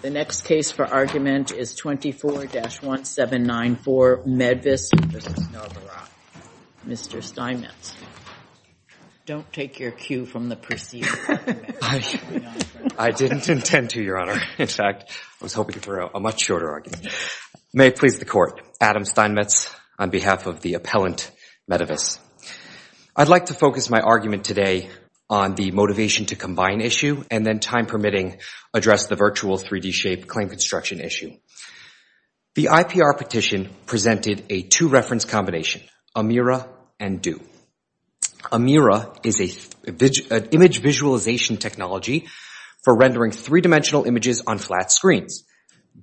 The next case for argument is 24-1794, Medivis v. Novarad. Mr. Steinmetz. Don't take your cue from the proceedings. I didn't intend to, Your Honor. In fact, I was hoping for a much shorter argument. May it please the Court. Adam Steinmetz on behalf of the appellant, Medivis. I'd like to focus my argument today on the motivation to combine issue and then, time permitting, address the virtual 3D shape claim construction issue. The IPR petition presented a two-reference combination, Amira and Deux. Amira is an image visualization technology for rendering three-dimensional images on flat screens.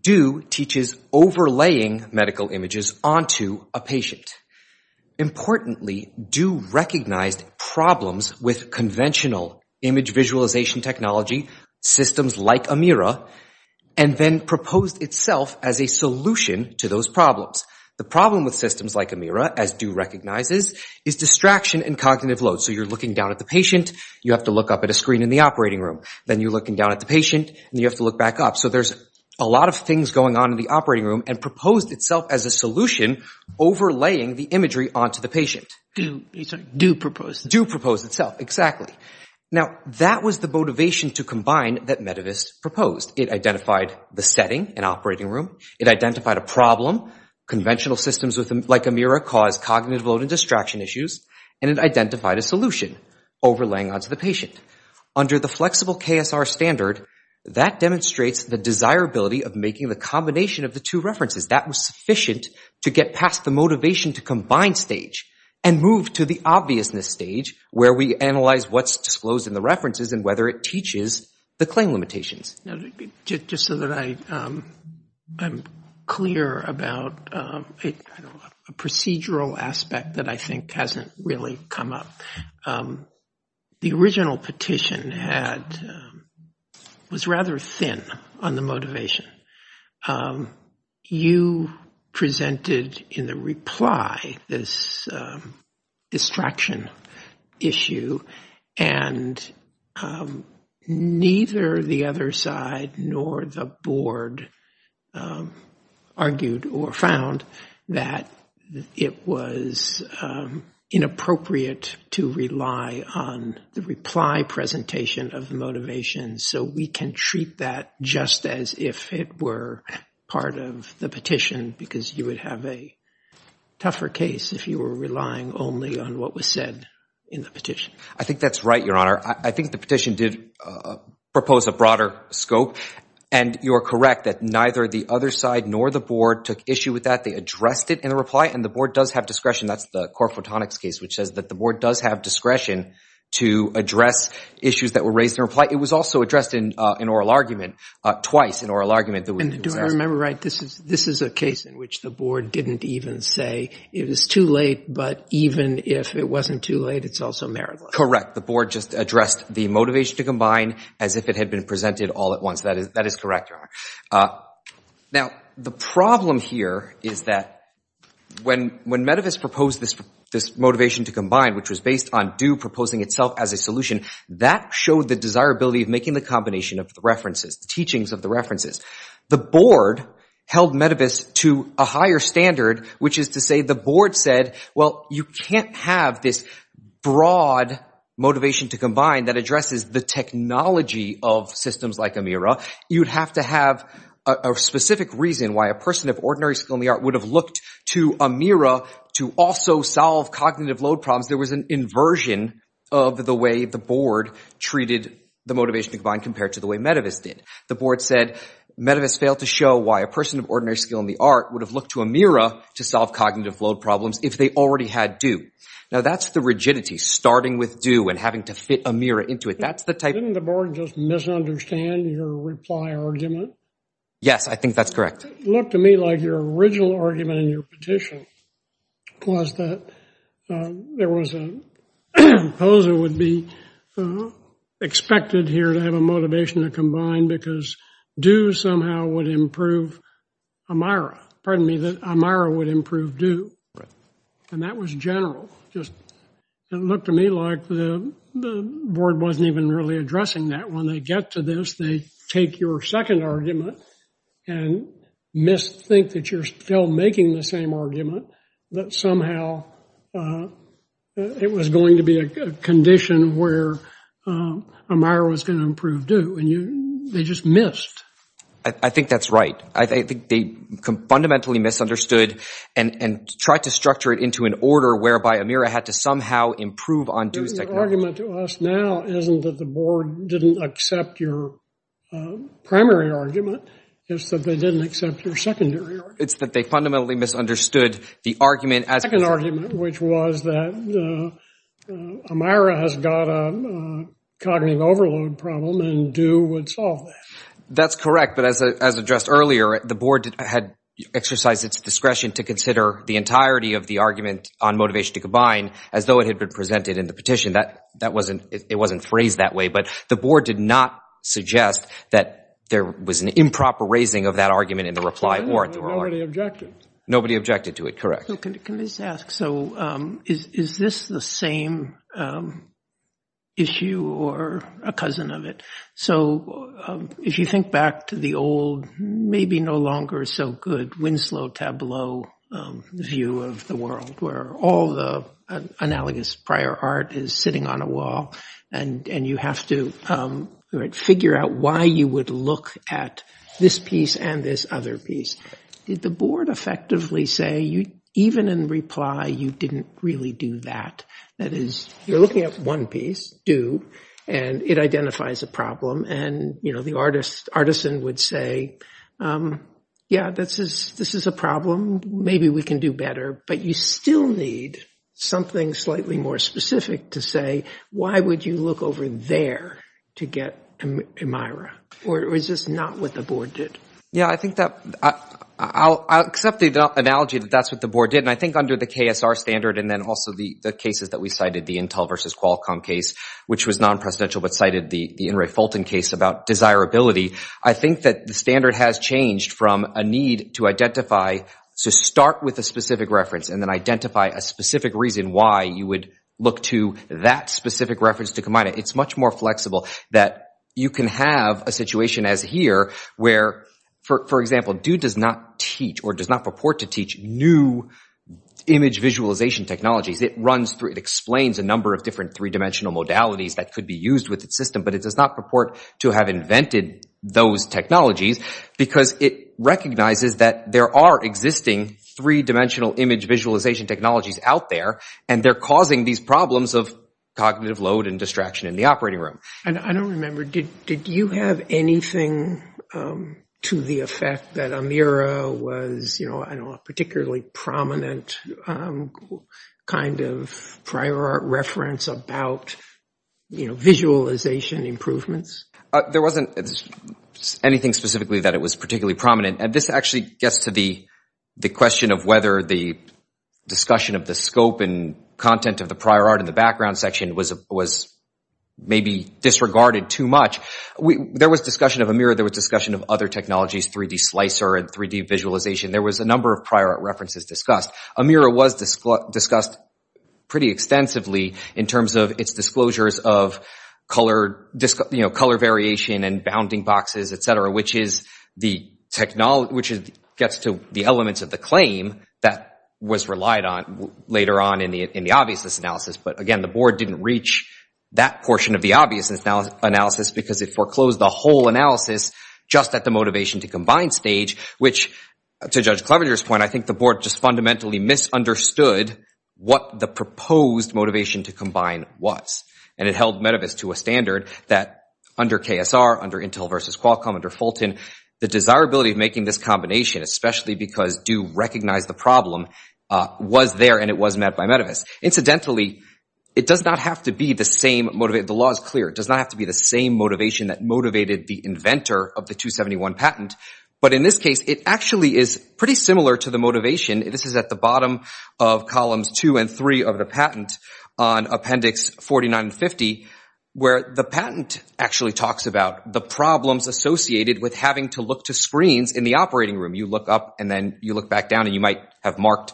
Deux teaches overlaying medical images onto a patient. Importantly, Deux recognized problems with conventional image visualization technology systems like Amira and then proposed itself as a solution to those problems. The problem with systems like Amira, as Deux recognizes, is distraction and cognitive load. So you're looking down at the patient. You have to look up at a screen in the operating room. Then you're looking down at the patient and you have to look back up. So there's a lot of things going on in the operating room and proposed itself as a solution overlaying the imagery onto the patient. Deux proposed it. Deux proposed itself, exactly. Now, that was the motivation to combine that Medivis proposed. It identified the setting, an operating room. It identified a problem. Conventional systems like Amira cause cognitive load and distraction issues. And it identified a solution overlaying onto the patient. Under the flexible KSR standard, that demonstrates the desirability of making the combination of the two references. That was sufficient to get past the motivation to combine stage and move to the obviousness stage where we analyze what's disclosed in the references and whether it teaches the claim limitations. Just so that I am clear about a procedural aspect that I think hasn't really come up. The original petition was rather thin on the motivation. You presented in the reply this distraction issue. And neither the other side nor the board argued or found that it was inappropriate to rely on the reply presentation of the motivation so we can treat that just as if it were part of the petition because you would have a tougher case if you were relying only on what was said in the petition. I think that's right, Your Honor. I think the petition did propose a broader scope. And you are correct that neither the other side nor the board took issue with that. They addressed it in a reply. And the board does have discretion. That's the core photonics case, which says that the board does have discretion to address issues that were raised in reply. It was also addressed in an oral argument, twice an oral argument. And do I remember right? This is a case in which the board didn't even say it was too late. But even if it wasn't too late, it's also meritless. Correct. The board just addressed the motivation to combine as if it had been presented all at once. That is correct, Your Honor. Now, the problem here is that when Medivis proposed this motivation to combine, which was based on Due proposing itself as a solution, that showed the desirability of making the combination of the references, the teachings of the references. The board held Medivis to a higher standard, which is to say the board said, well, you can't have this broad motivation to combine that addresses the technology of systems like AMIRA. You'd have to have a specific reason why a person of ordinary skill in the art would have looked to AMIRA to also solve cognitive load problems. There was an inversion of the way the board treated the motivation to combine compared to the way Medivis did. The board said Medivis failed to show why a person of ordinary skill in the art would have looked to AMIRA to solve cognitive load problems if they already had Due. Now, that's the rigidity, starting with Due and having to fit AMIRA into it. That's the type of thing. Didn't the board just misunderstand your reply argument? Yes, I think that's correct. It looked to me like your original argument in your petition was that there was a proposal would be expected here to have a motivation to combine because Due somehow would improve AMIRA. Pardon me, that AMIRA would improve Due. And that was general. Just it looked to me like the board wasn't even really addressing that. When they get to this, they take your second argument and misthink that you're still making the same argument, that somehow it was going to be a condition where AMIRA was going to improve Due. And they just missed. I think that's right. I think they fundamentally misunderstood and tried to structure it into an order whereby AMIRA had to somehow improve on Due's technology. Your argument to us now isn't that the board didn't accept your primary argument. It's that they didn't accept your secondary argument. It's that they fundamentally misunderstood the argument as a second argument, which was that AMIRA has got a cognitive overload problem and Due would solve that. That's correct. But as addressed earlier, the board had exercised its discretion to consider the entirety of the argument on motivation to combine as though it had been presented in the petition. It wasn't phrased that way. But the board did not suggest that there was an improper raising of that argument in the reply warrant. They were already objective. Nobody objected to it, correct. Can I just ask, so is this the same issue or a cousin of it? So if you think back to the old, maybe no longer so good, Winslow Tableau view of the world, where all the analogous prior art is sitting on a wall and you have to figure out why you would look at this piece and this other piece, did the board effectively say, even in reply, you didn't really do that? That is, you're looking at one piece, Due, and it identifies a problem. And the artisan would say, yeah, this is a problem. Maybe we can do better. But you still need something slightly more specific to say, why would you look over there to get a Myra? Or is this not what the board did? Yeah, I think that I'll accept the analogy that that's what the board did. And I think under the KSR standard and then also the cases that we cited, the Intel versus Qualcomm case, which was non-presidential but cited the In re Fulton case about desirability, I think that the standard has changed from a need to identify, to start with a specific reference and then identify a specific reason why you would look to that specific reference to combine it. It's much more flexible that you can have a situation as here where, for example, Due does not teach or does not purport to teach new image visualization technologies. It runs through, it explains a number of different three-dimensional modalities that could be used with its system, but it does not purport to have invented those technologies because it recognizes that there are existing three-dimensional image visualization technologies out there, and they're causing these problems of cognitive load and distraction in the operating room. And I don't remember, did you have anything to the effect that Amira was a particularly prominent kind of prior art reference about visualization improvements? There wasn't anything specifically that it was particularly prominent. And this actually gets to the question of whether the discussion of the scope and content of the prior art in the background section was maybe disregarded too much. There was discussion of Amira. There was discussion of other technologies, 3D slicer and 3D visualization. There was a number of prior art references discussed. Amira was discussed pretty extensively in terms of its disclosures of color variation and bounding boxes, et cetera, which gets to the elements of the claim that was relied on later on in the obviousness analysis. But again, the board didn't reach that portion of the obviousness analysis because it foreclosed the whole analysis just at the motivation to combine stage, which, to Judge Clevenger's point, I think the board just fundamentally misunderstood what the proposed motivation to combine was. And it held MetaVis to a standard that under KSR, under Intel versus Qualcomm, under Fulton, the desirability of making this combination, especially because do recognize the problem, was there and it was met by MetaVis. Incidentally, it does not have to be the same motivation. The law is clear. It does not have to be the same motivation that motivated the inventor of the 271 patent. But in this case, it actually is pretty similar to the motivation. This is at the bottom of columns two and three of the patent on appendix 49 and 50, where the patent actually talks about the problems associated with having to look to screens in the operating room. You look up, and then you look back down, and you might operate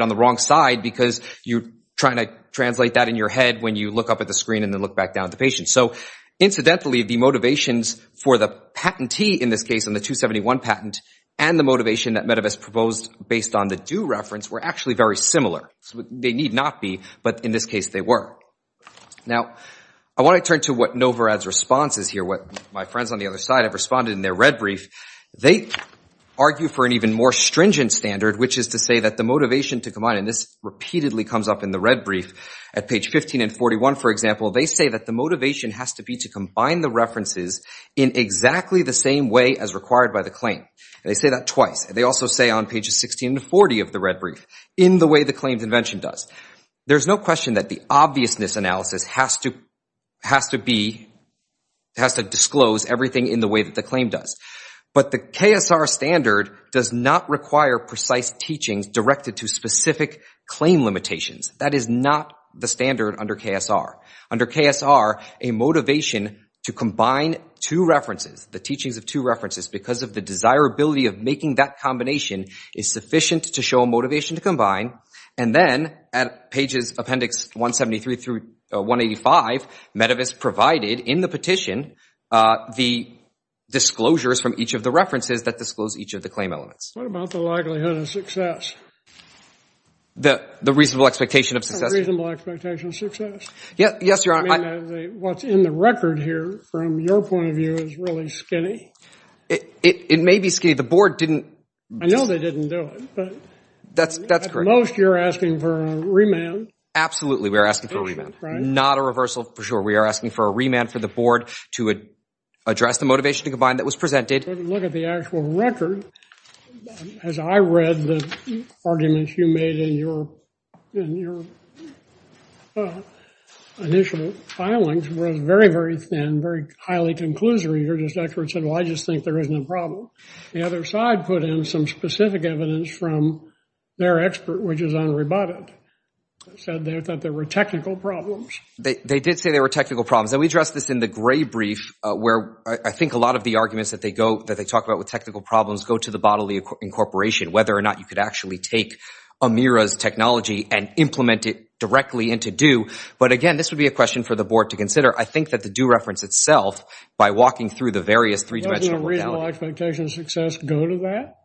on the wrong side because you're trying to translate that in your head when you look up at the screen and then look back down at the patient. So incidentally, the motivations for the patentee in this case in the 271 patent and the motivation that MetaVis proposed based on the do reference were actually very similar. They need not be, but in this case, they were. Now, I want to turn to what Novorad's response is here, what my friends on the other side have responded in their red brief. They argue for an even more stringent standard, which is to say that the motivation to combine, and this repeatedly comes up in the red brief, at page 15 and 41, for example, they say that the motivation has to be to combine the references in exactly the same way as required by the claim. They say that twice. They also say on pages 16 and 40 of the red brief, in the way the claimed invention does. There's no question that the obviousness analysis has to disclose everything in the way that the claim does. But the KSR standard does not require precise teachings directed to specific claim limitations. That is not the standard under KSR. Under KSR, a motivation to combine two references, the teachings of two references, because of the desirability of making that combination is sufficient to show a motivation to combine. And then at pages appendix 173 through 185, Medivis provided in the petition the disclosures from each of the references that disclose each of the claim elements. What about the likelihood of success? The reasonable expectation of success. The reasonable expectation of success. Yes, Your Honor. What's in the record here, from your point of view, is really skinny. It may be skinny. The board didn't. I know they didn't do it. That's correct. At most, you're asking for a remand. Absolutely, we are asking for a remand. Not a reversal, for sure. We are asking for a remand for the board to address the motivation to combine that was presented. Look at the actual record. As I read the arguments you made in your initial filings, it was very, very thin, very highly conclusory. Your expert said, well, I just think there isn't a problem. The other side put in some specific evidence from their expert, which is Henri Bottet, said that there were technical problems. They did say there were technical problems. And we addressed this in the gray brief, where I think a lot of the arguments that they talk about with technical problems go to the bodily incorporation, whether or not you could actually take Amira's technology and implement it directly into due. But again, this would be a question for the board to consider. I think that the due reference itself, by walking through the various three-dimensional reality. Doesn't a reasonable expectation of success go to that?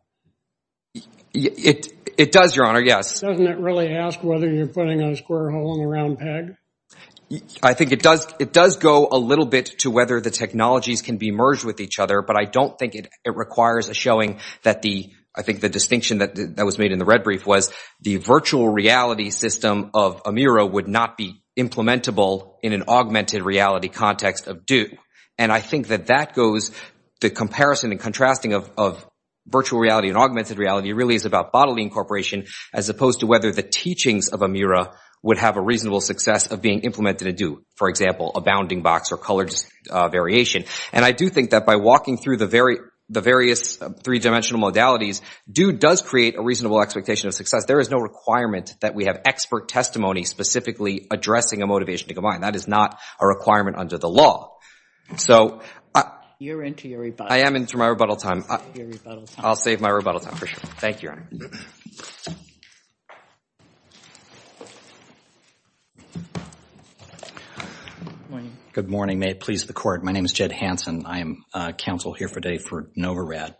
It does, Your Honor, yes. Doesn't it really ask whether you're putting a square hole in the round peg? I think it does go a little bit to whether the technologies can be merged with each other. But I don't think it requires a showing that the, I think, the distinction that was made in the red brief was the virtual reality system of Amira would not be implementable in an augmented reality context of due. And I think that that goes, the comparison and contrasting of virtual reality and augmented reality really is about bodily incorporation, as opposed to whether the teachings of Amira would have a reasonable success of being implemented in due. For example, a bounding box or colored variation. And I do think that by walking through the various three dimensional modalities, due does create a reasonable expectation of success. There is no requirement that we have expert testimony specifically addressing a motivation to combine. That is not a requirement under the law. So I am into my rebuttal time. I'll save my rebuttal time for sure. Thank you, Your Honor. Good morning. May it please the court. My name is Jed Hanson. I am counsel here today for NOVA RAD.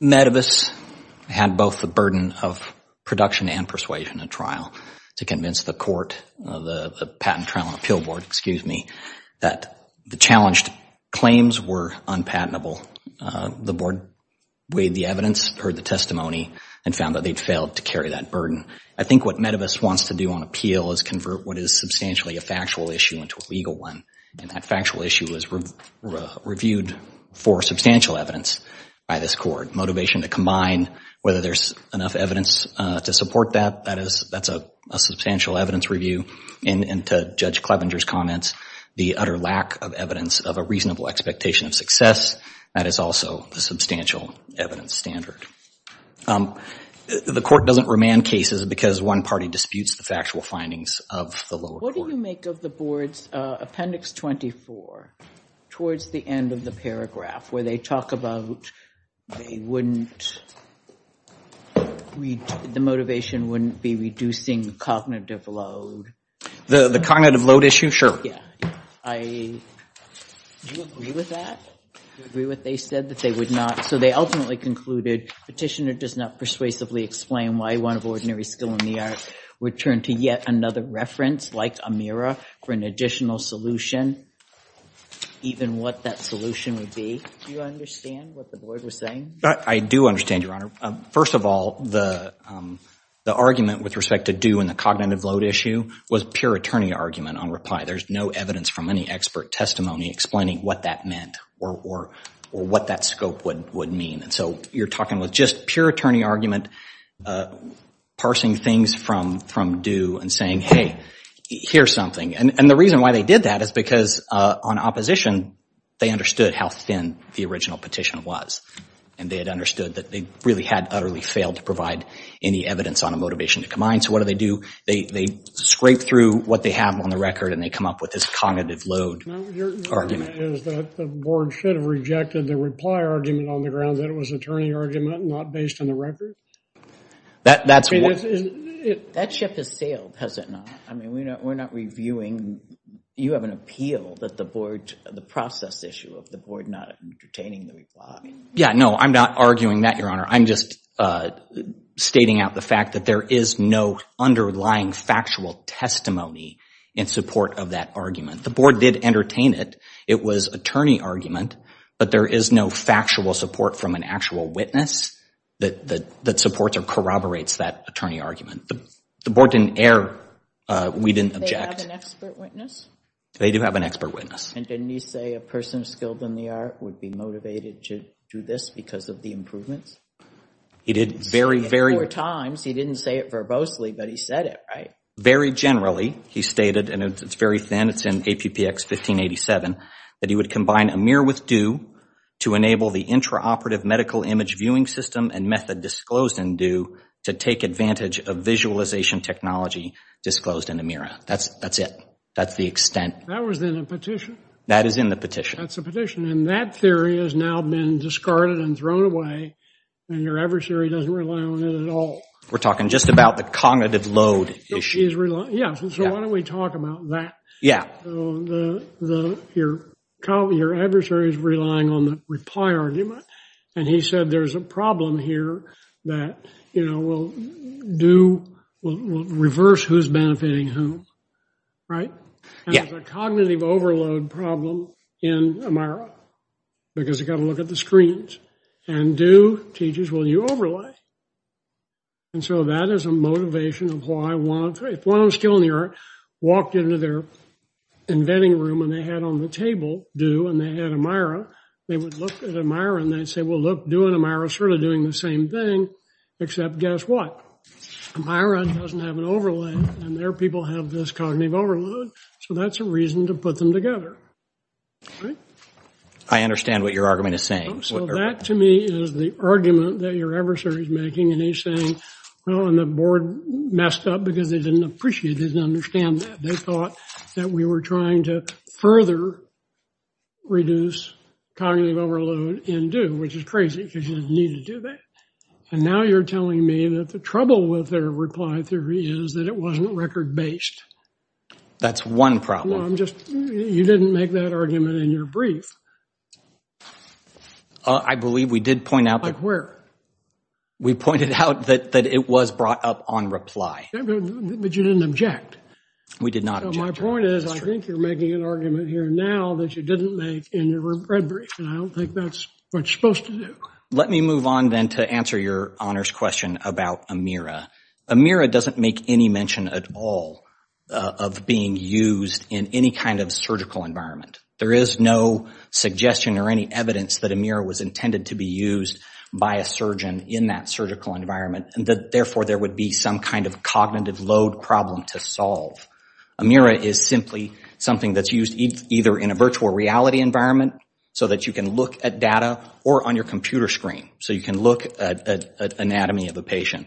Medivis had both the burden of production and persuasion at trial to convince the court, the patent trial and appeal board, excuse me, that the challenged claims were unpatentable. The board weighed the evidence, heard the testimony, and found that they'd failed to carry that burden. I think what Medivis wants to do on appeal is convert what is substantially a factual issue into a legal one. And that factual issue was reviewed for substantial evidence by this court. Motivation to combine, whether there's enough evidence to support that, that's a substantial evidence review. And to Judge Clevenger's comments, the utter lack of evidence of a reasonable expectation of success, that is also a substantial evidence standard. The court doesn't remand cases because one party disputes the factual findings of the lower court. What do you make of the board's appendix 24 towards the end of the paragraph, where they talk about the motivation wouldn't be reducing the cognitive load? The cognitive load issue? I agree with that. I agree with what they said, that they would not. So they ultimately concluded, petitioner does not persuasively explain why one of ordinary skill in the art would turn to yet another reference, like Amira, for an additional solution, even what that solution would be. Do you understand what the board was saying? I do understand, Your Honor. First of all, the argument with respect to due and the cognitive load issue was pure attorney argument on reply. There's no evidence from any expert testimony explaining what that meant or what that scope would mean. And so you're talking with just pure attorney argument, parsing things from due and saying, hey, here's something. And the reason why they did that is because on opposition, they understood how thin the original petition was. And they had understood that they really had utterly failed to provide any evidence on a motivation to come in. So what do they do? They scrape through what they have on the record, and they come up with this cognitive load argument. The board should have rejected the reply argument on the ground that it was attorney argument, not based on the record? That ship has sailed, has it not? I mean, we're not reviewing. You have an appeal that the process issue of the board not entertaining the reply. Yeah, no, I'm not arguing that, Your Honor. I'm just stating out the fact that there is no underlying factual testimony in support of that argument. The board did entertain it. It was attorney argument, but there is no factual support from an actual witness that supports or corroborates that attorney argument. The board didn't err. We didn't object. Do they have an expert witness? They do have an expert witness. And didn't he say a person skilled in the art would be motivated to do this because of the improvements? He did very, very. Four times, he didn't say it verbosely, but he said it, right? Very generally, he stated, and it's very thin. It's in APPX 1587, that he would combine AMIR with DEW to enable the intraoperative medical image viewing system and method disclosed in DEW to take advantage of visualization technology disclosed in AMIRA. That's it. That's the extent. That was in a petition. That is in the petition. That's a petition. And that theory has now been discarded and thrown away, and your adversary doesn't rely on it at all. We're talking just about the cognitive load issue. Yeah, so why don't we talk about that? Yeah. Your adversary is relying on the reply argument, and he said there is a problem here that will reverse who's benefiting whom, right? There's a cognitive overload problem in AMIRA, because you've got to look at the screens. And DEW teaches, will you overlay? And so that is a motivation of why one of the three, if one of them is still in the art, walked into their inventing room, and they had on the table DEW, and they had AMIRA, they would look at AMIRA, and they'd say, well, look, DEW and AMIRA are sort of doing the same thing, except guess what? AMIRA doesn't have an overlay, and their people have this cognitive overload. So that's a reason to put them together, right? I understand what your argument is saying. So that, to me, is the argument that your adversary is making. And he's saying, well, and the board messed up because they didn't appreciate, didn't understand that. They thought that we were trying to further reduce cognitive overload in DEW, which is crazy, because you didn't need to do that. And now you're telling me that the trouble with their reply theory is that it wasn't record-based. That's one problem. No, I'm just, you didn't make that argument in your brief. I believe we did point out that. Like where? We pointed out that it was brought up on reply. But you didn't object. We did not object. So my point is, I think you're making an argument here now that you didn't make in your red brief, and I don't think that's what you're supposed to do. Let me move on, then, to answer your honors question about AMIRA. AMIRA doesn't make any mention at all of being used in any kind of surgical environment. There is no suggestion or any evidence that AMIRA was intended to be used by a surgeon in that surgical environment, and that, therefore, there would be some kind of cognitive load problem to solve. AMIRA is simply something that's used either in a virtual reality environment, so that you can look at data, or on your computer screen, so you can look at anatomy of a patient.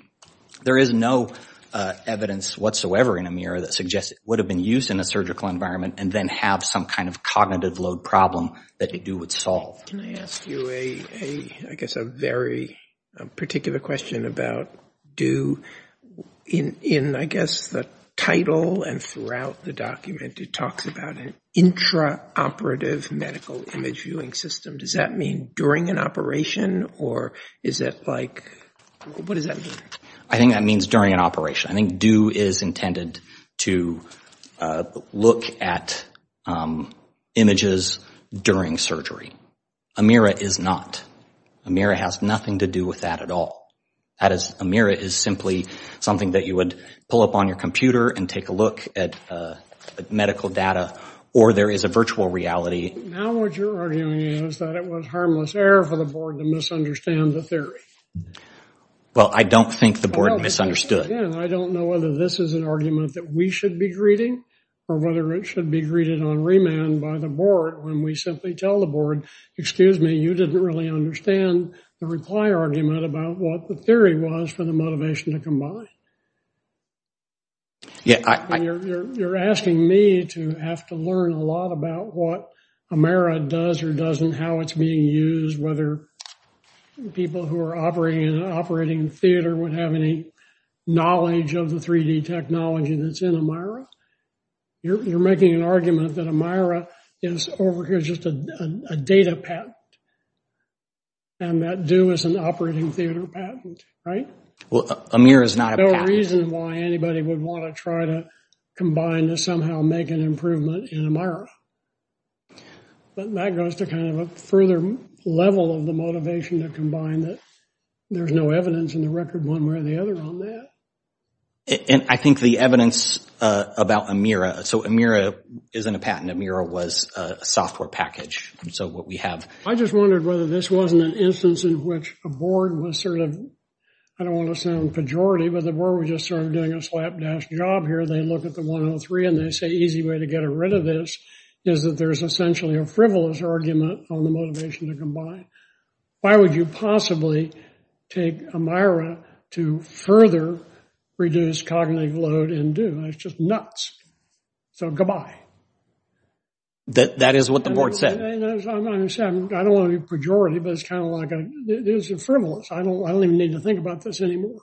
There is no evidence whatsoever in AMIRA that suggests it would have been used in a surgical environment and then have some kind of cognitive load problem that it do would solve. Can I ask you, I guess, a very particular question about do. In, I guess, the title and throughout the document, it talks about an intraoperative medical image viewing system. Does that mean during an operation, or is it like, what does that mean? I think that means during an operation. I think do is intended to look at images during surgery. AMIRA is not. AMIRA has nothing to do with that at all. AMIRA is simply something that you would pull up on your computer and take a look at medical data, or there is a virtual reality. Now what you're arguing is that it was harmless error for the board to misunderstand the theory. Well, I don't think the board misunderstood. I don't know whether this is an argument that we should be greeting, or whether it should be greeted on remand by the board when we simply tell the board, excuse me, you didn't really understand the reply argument about what the theory was for the motivation to come by. Yeah, I think you're asking me to have to learn a lot about what AMIRA does or doesn't, how it's being used, whether people who are operating in an operating theater would have any knowledge of the 3D technology that's in AMIRA. You're making an argument that AMIRA is over here just a data patent, and that do is an operating theater patent, right? Well, AMIRA is not a patent. There's no reason why anybody would want to try to combine to somehow make an improvement in AMIRA. But that goes to kind of a further level of the motivation to combine that there's no evidence in the record one way or the other on that. And I think the evidence about AMIRA, so AMIRA isn't a patent. AMIRA was a software package. So what we have. I just wondered whether this wasn't an instance in which a board was sort of, I don't want to sound pejorative, but the board was just sort of doing a slapdash job here. They look at the 103, and they say easy way to get rid of this is that there is essentially a frivolous argument on the motivation to combine. Why would you possibly take AMIRA to further reduce cognitive load and do? It's just nuts. So goodbye. That is what the board said. I don't want to be pejorative, but it's kind of like, this is frivolous. I don't even need to think about this anymore.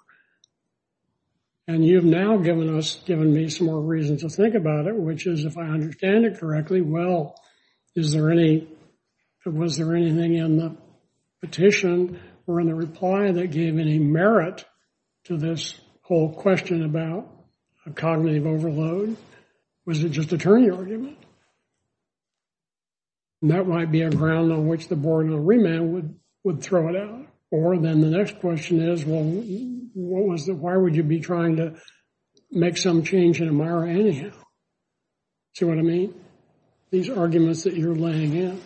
And you've now given us, given me some more reasons to think about it, which is if I understand it correctly, well, is there any, was there anything in the petition or in the reply that gave any merit to this whole question about a cognitive overload? Was it just a turning argument? That might be a ground on which the board and the remand would throw it out. Or then the next question is, well, what was the, why would you be trying to make some change in AMIRA anyhow? See what I mean? These arguments that you're laying in.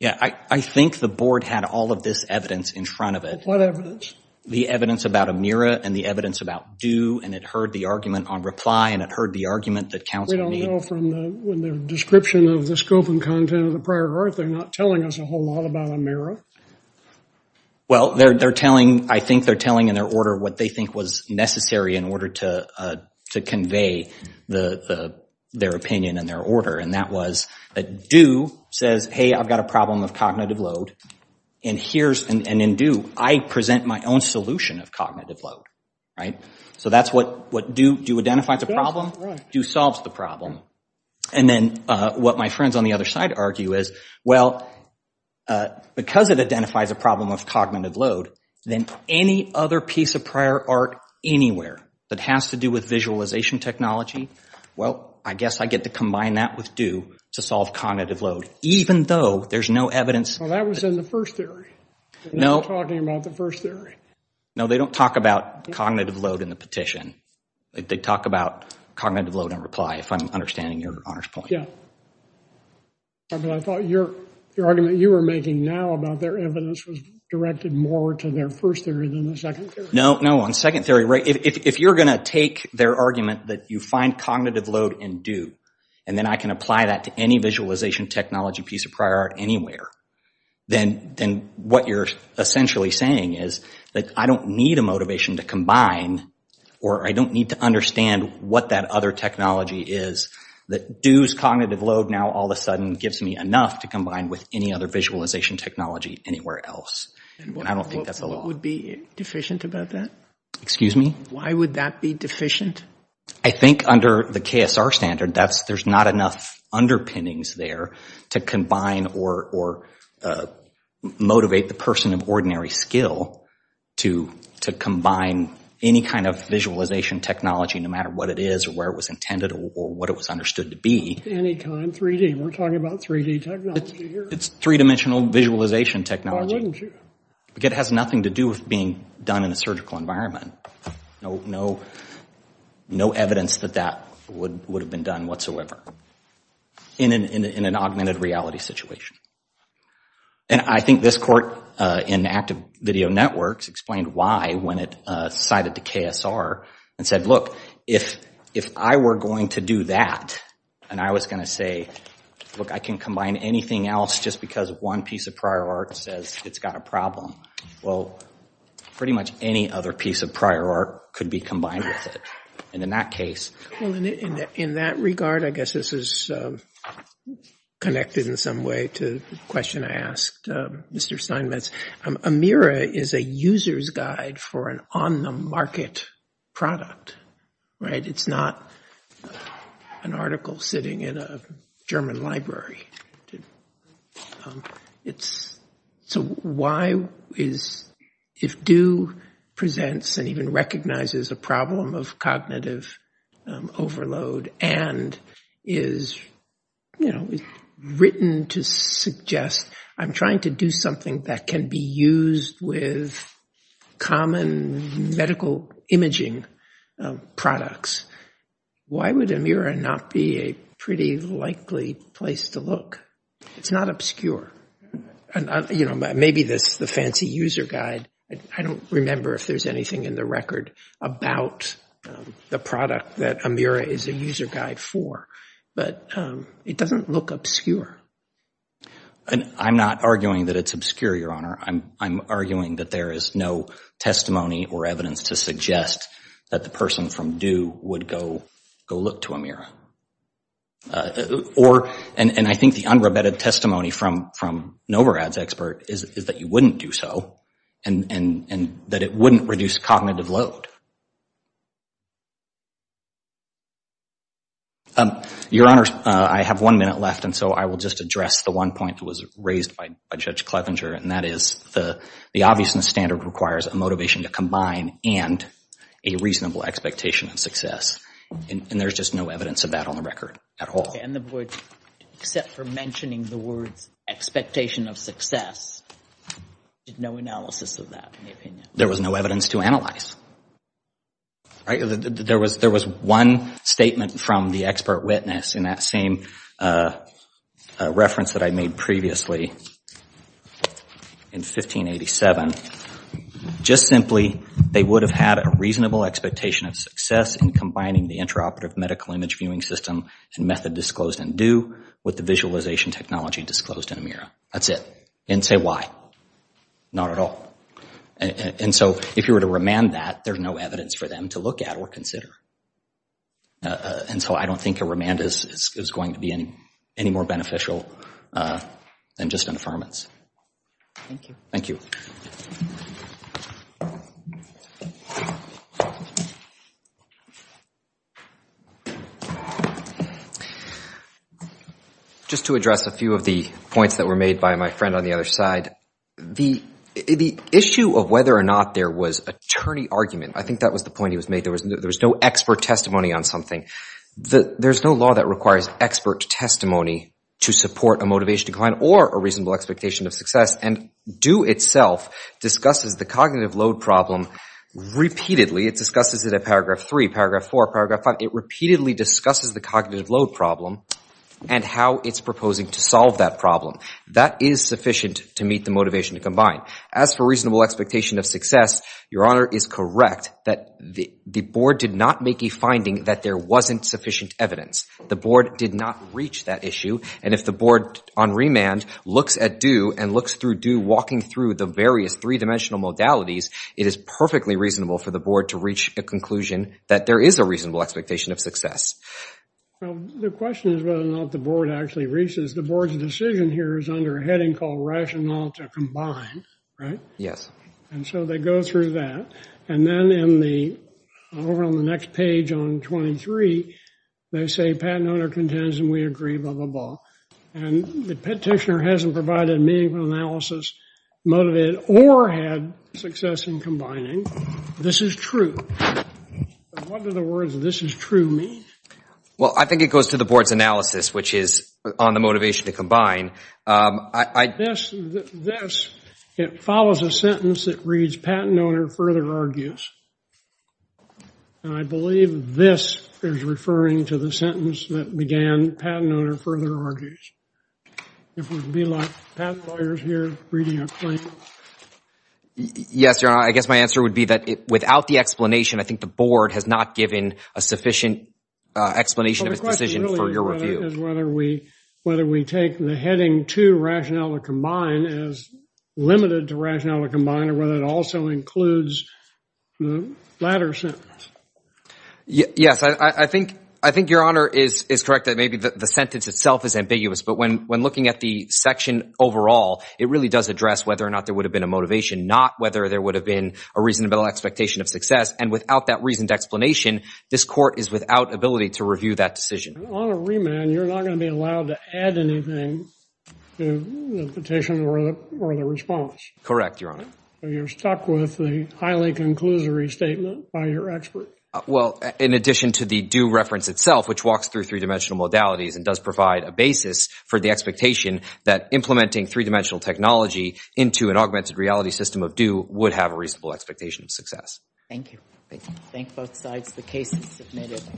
Yeah, I think the board had all of this evidence in front of it. What evidence? The evidence about AMIRA and the evidence about due, and it heard the argument on reply, and it heard the argument that counsel need. We don't know from the description of the scope and content of the prior work, they're not telling us a whole lot about AMIRA. Well, they're telling, I think they're telling in their order what they think was necessary in order to convey their opinion and their order. And that was that due says, hey, I've got a problem of cognitive load, and here's, and in due, I present my own solution of cognitive load, right? So that's what, do you identify the problem? Due solves the problem. And then what my friends on the other side argue is, well, because it identifies a problem of cognitive load, then any other piece of prior art anywhere that has to do with visualization technology, well, I guess I get to combine that with due to solve cognitive load, even though there's no evidence. Well, that was in the first theory. No. They're not talking about the first theory. No, they don't talk about cognitive load in the petition. They talk about cognitive load on reply, if I'm understanding your honor's point. Yeah. I thought your argument you were making now about their evidence was directed more to their first theory than the second theory. No, no, on second theory, right, if you're gonna take their argument that you find cognitive load in due, and then I can apply that to any visualization technology piece of prior art anywhere, then what you're essentially saying is that I don't need a motivation to combine, or I don't need to understand what that other technology is that due's cognitive load now all of a sudden gives me enough to combine with any other visualization technology anywhere else. And I don't think that's the law. And what would be deficient about that? Excuse me? Why would that be deficient? I think under the KSR standard, there's not enough underpinnings there to combine or motivate the person of ordinary skill to combine any kind of visualization technology, no matter what it is or where it was intended or what it was understood to be. Anytime, 3D, we're talking about 3D technology here. It's three-dimensional visualization technology. Why wouldn't you? Because it has nothing to do with being done in a surgical environment. No evidence that that would have been done whatsoever in an augmented reality situation. And I think this court in Active Video Networks explained why when it cited the KSR and said, look, if I were going to do that, and I was gonna say, look, I can combine anything else just because one piece of prior art says it's got a problem. Well, pretty much any other piece of prior art could be combined with it. And in that case. Well, in that regard, I guess this is connected in some way to the question I asked Mr. Steinmetz. Amira is a user's guide for an on-the-market product. It's not an article sitting in a German library. So why is, if Due presents and even recognizes a problem of cognitive overload and is written to suggest, I'm trying to do something that can be used with common medical imaging products. Why would Amira not be a pretty likely place to look? It's not obscure. Maybe this is the fancy user guide. I don't remember if there's anything in the record about the product that Amira is a user guide for, but it doesn't look obscure. I'm not arguing that it's obscure, Your Honor. I'm arguing that there is no testimony or evidence to suggest that the person from Due would go look to Amira. Or, and I think the unrebutted testimony from Novorad's expert is that you wouldn't do so and that it wouldn't reduce cognitive load. Your Honor, I have one minute left and so I will just address the one point that was raised by Judge Clevenger and that is the obviousness standard requires a motivation to combine and a reasonable expectation of success. And there's just no evidence of that on the record at all. Okay, and except for mentioning the words expectation of success, there's no analysis of that. There was no evidence to analyze. There was one statement from the expert witness in that same reference that I made previously in 1587. Just simply, they would have had a reasonable expectation of success in combining the intraoperative medical image viewing system and method disclosed in Due with the visualization technology disclosed in Amira. That's it. And say why? Not at all. And so if you were to remand that, there's no evidence for them to look at or consider. And so I don't think a remand is going to be any more beneficial than just an affirmance. Thank you. Thank you. Just to address a few of the points that were made by my friend on the other side, the issue of whether or not there was attorney argument, I think that was the point he was making. There was no expert testimony on something. There's no law that requires expert testimony to support a motivation decline or a reasonable expectation of success. And Due itself discusses the cognitive load problem repeatedly. It discusses it at paragraph three, paragraph four, paragraph five. It repeatedly discusses the cognitive load problem and how it's proposing to solve that problem. That is sufficient to meet the motivation to combine. As for reasonable expectation of success, your honor is correct that the board did not make a finding that there wasn't sufficient evidence. The board did not reach that issue. And if the board on remand looks at Due and looks through Due walking through the various three-dimensional modalities, it is perfectly reasonable for the board to reach a conclusion that there is a reasonable expectation of success. Well, the question is whether or not the board actually reaches. The board's decision here is under a heading called rational to combine, right? Yes. And so they go through that. And then in the, over on the next page on 23, they say patent owner contends and we agree, blah, blah, blah. And the petitioner hasn't provided a meaningful analysis, motivated, or had success in combining. This is true. What do the words, this is true, mean? Well, I think it goes to the board's analysis, which is on the motivation to combine. This, it follows a sentence that reads, patent owner further argues. And I believe this is referring to the sentence that began patent owner further argues. It would be like patent lawyers here reading a claim. Yes, Your Honor, I guess my answer would be that without the explanation, I think the board has not given a sufficient explanation of its decision for your review. My question is whether we take the heading to rationale to combine as limited to rationale to combine or whether it also includes the latter sentence. Yes, I think Your Honor is correct that maybe the sentence itself is ambiguous. But when looking at the section overall, it really does address whether or not there would have been a motivation, not whether there would have been a reasonable expectation of success. And without that reasoned explanation, this court is without ability to review that decision. And on a remand, you're not gonna be allowed to add anything to the petition or the response. Correct, Your Honor. You're stuck with the highly conclusory statement by your expert. Well, in addition to the due reference itself, which walks through three-dimensional modalities and does provide a basis for the expectation that implementing three-dimensional technology into an augmented reality system of due would have a reasonable expectation of success. Thank you. Thank both sides. The case is submitted.